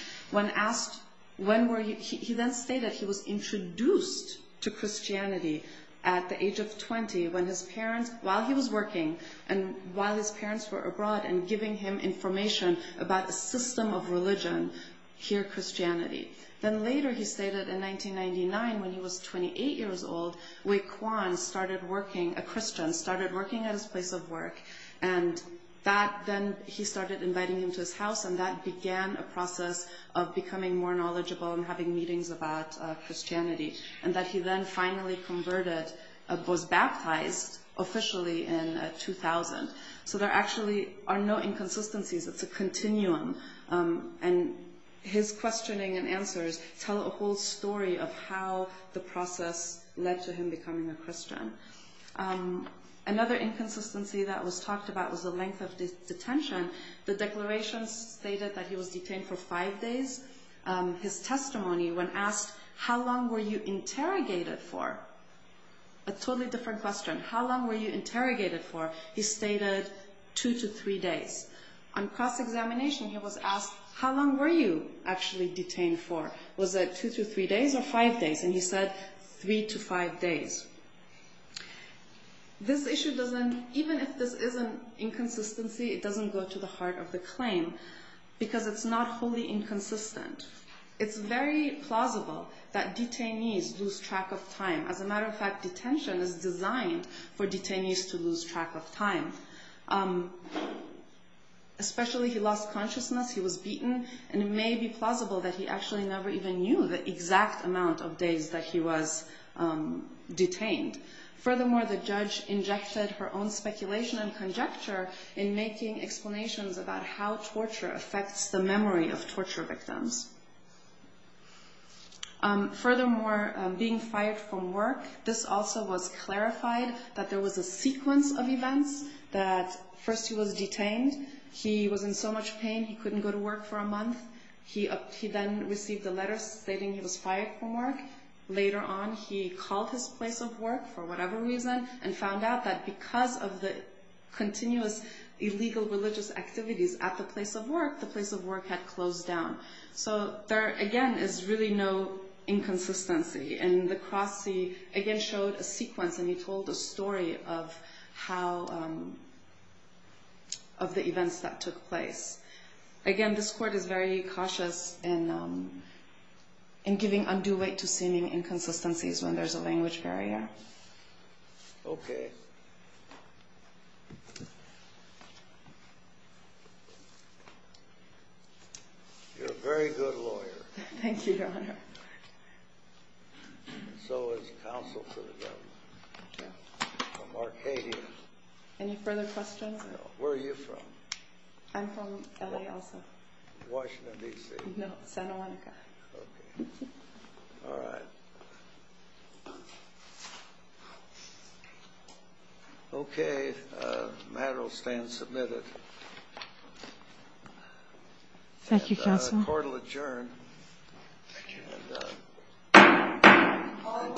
He then stated he was introduced to Christianity at the age of 20, while he was working and while his parents were abroad and giving him information about a system of religion, here Christianity. Then later he stated in 1999, when he was 28 years old, Wei Kuan started working, a Christian, started working at his place of work, and then he started inviting him to his house, and that began a process of becoming more knowledgeable and having meetings about Christianity. And that he then finally converted, was baptized officially in 2000. So there actually are no inconsistencies, it's a continuum. And his questioning and answers tell a whole story of how the process led to him becoming a Christian. Another inconsistency that was talked about was the length of detention. The declaration stated that he was detained for five days. His testimony, when asked, how long were you interrogated for? A totally different question. How long were you interrogated for? He stated two to three days. On cross-examination he was asked, how long were you actually detained for? Was it two to three days or five days? And he said, three to five days. This issue doesn't, even if this is an inconsistency, it doesn't go to the heart of the claim. Because it's not wholly inconsistent. It's very plausible that detainees lose track of time. As a matter of fact, detention is designed for detainees to lose track of time. Especially, he lost consciousness, he was beaten. And it may be plausible that he actually never even knew the exact amount of days that he was detained. Furthermore, the judge injected her own speculation and conjecture in making explanations about how torture affects the memory of torture victims. Furthermore, being fired from work, this also was clarified that there was a sequence of events. That first he was detained, he was in so much pain he couldn't go to work for a month. He then received a letter stating he was fired from work. Later on, he called his place of work for whatever reason and found out that because of the continuous illegal religious activities at the place of work, the place of work had closed down. So, there again is really no inconsistency. And the cross, he again showed a sequence and he told a story of how, of the events that took place. Again, this Court is very cautious in giving undue weight to seeming inconsistencies when there's a language barrier. Okay. You're a very good lawyer. Thank you, Your Honor. So is counsel for the government. Okay. From Arcadia. Any further questions? No. Where are you from? I'm from L.A. also. Washington, D.C.? No, Santa Monica. Okay. All right. Okay. The matter will stand submitted. Thank you, Counsel. And the Court will adjourn. Thank you. All rise for the decision to adjourn.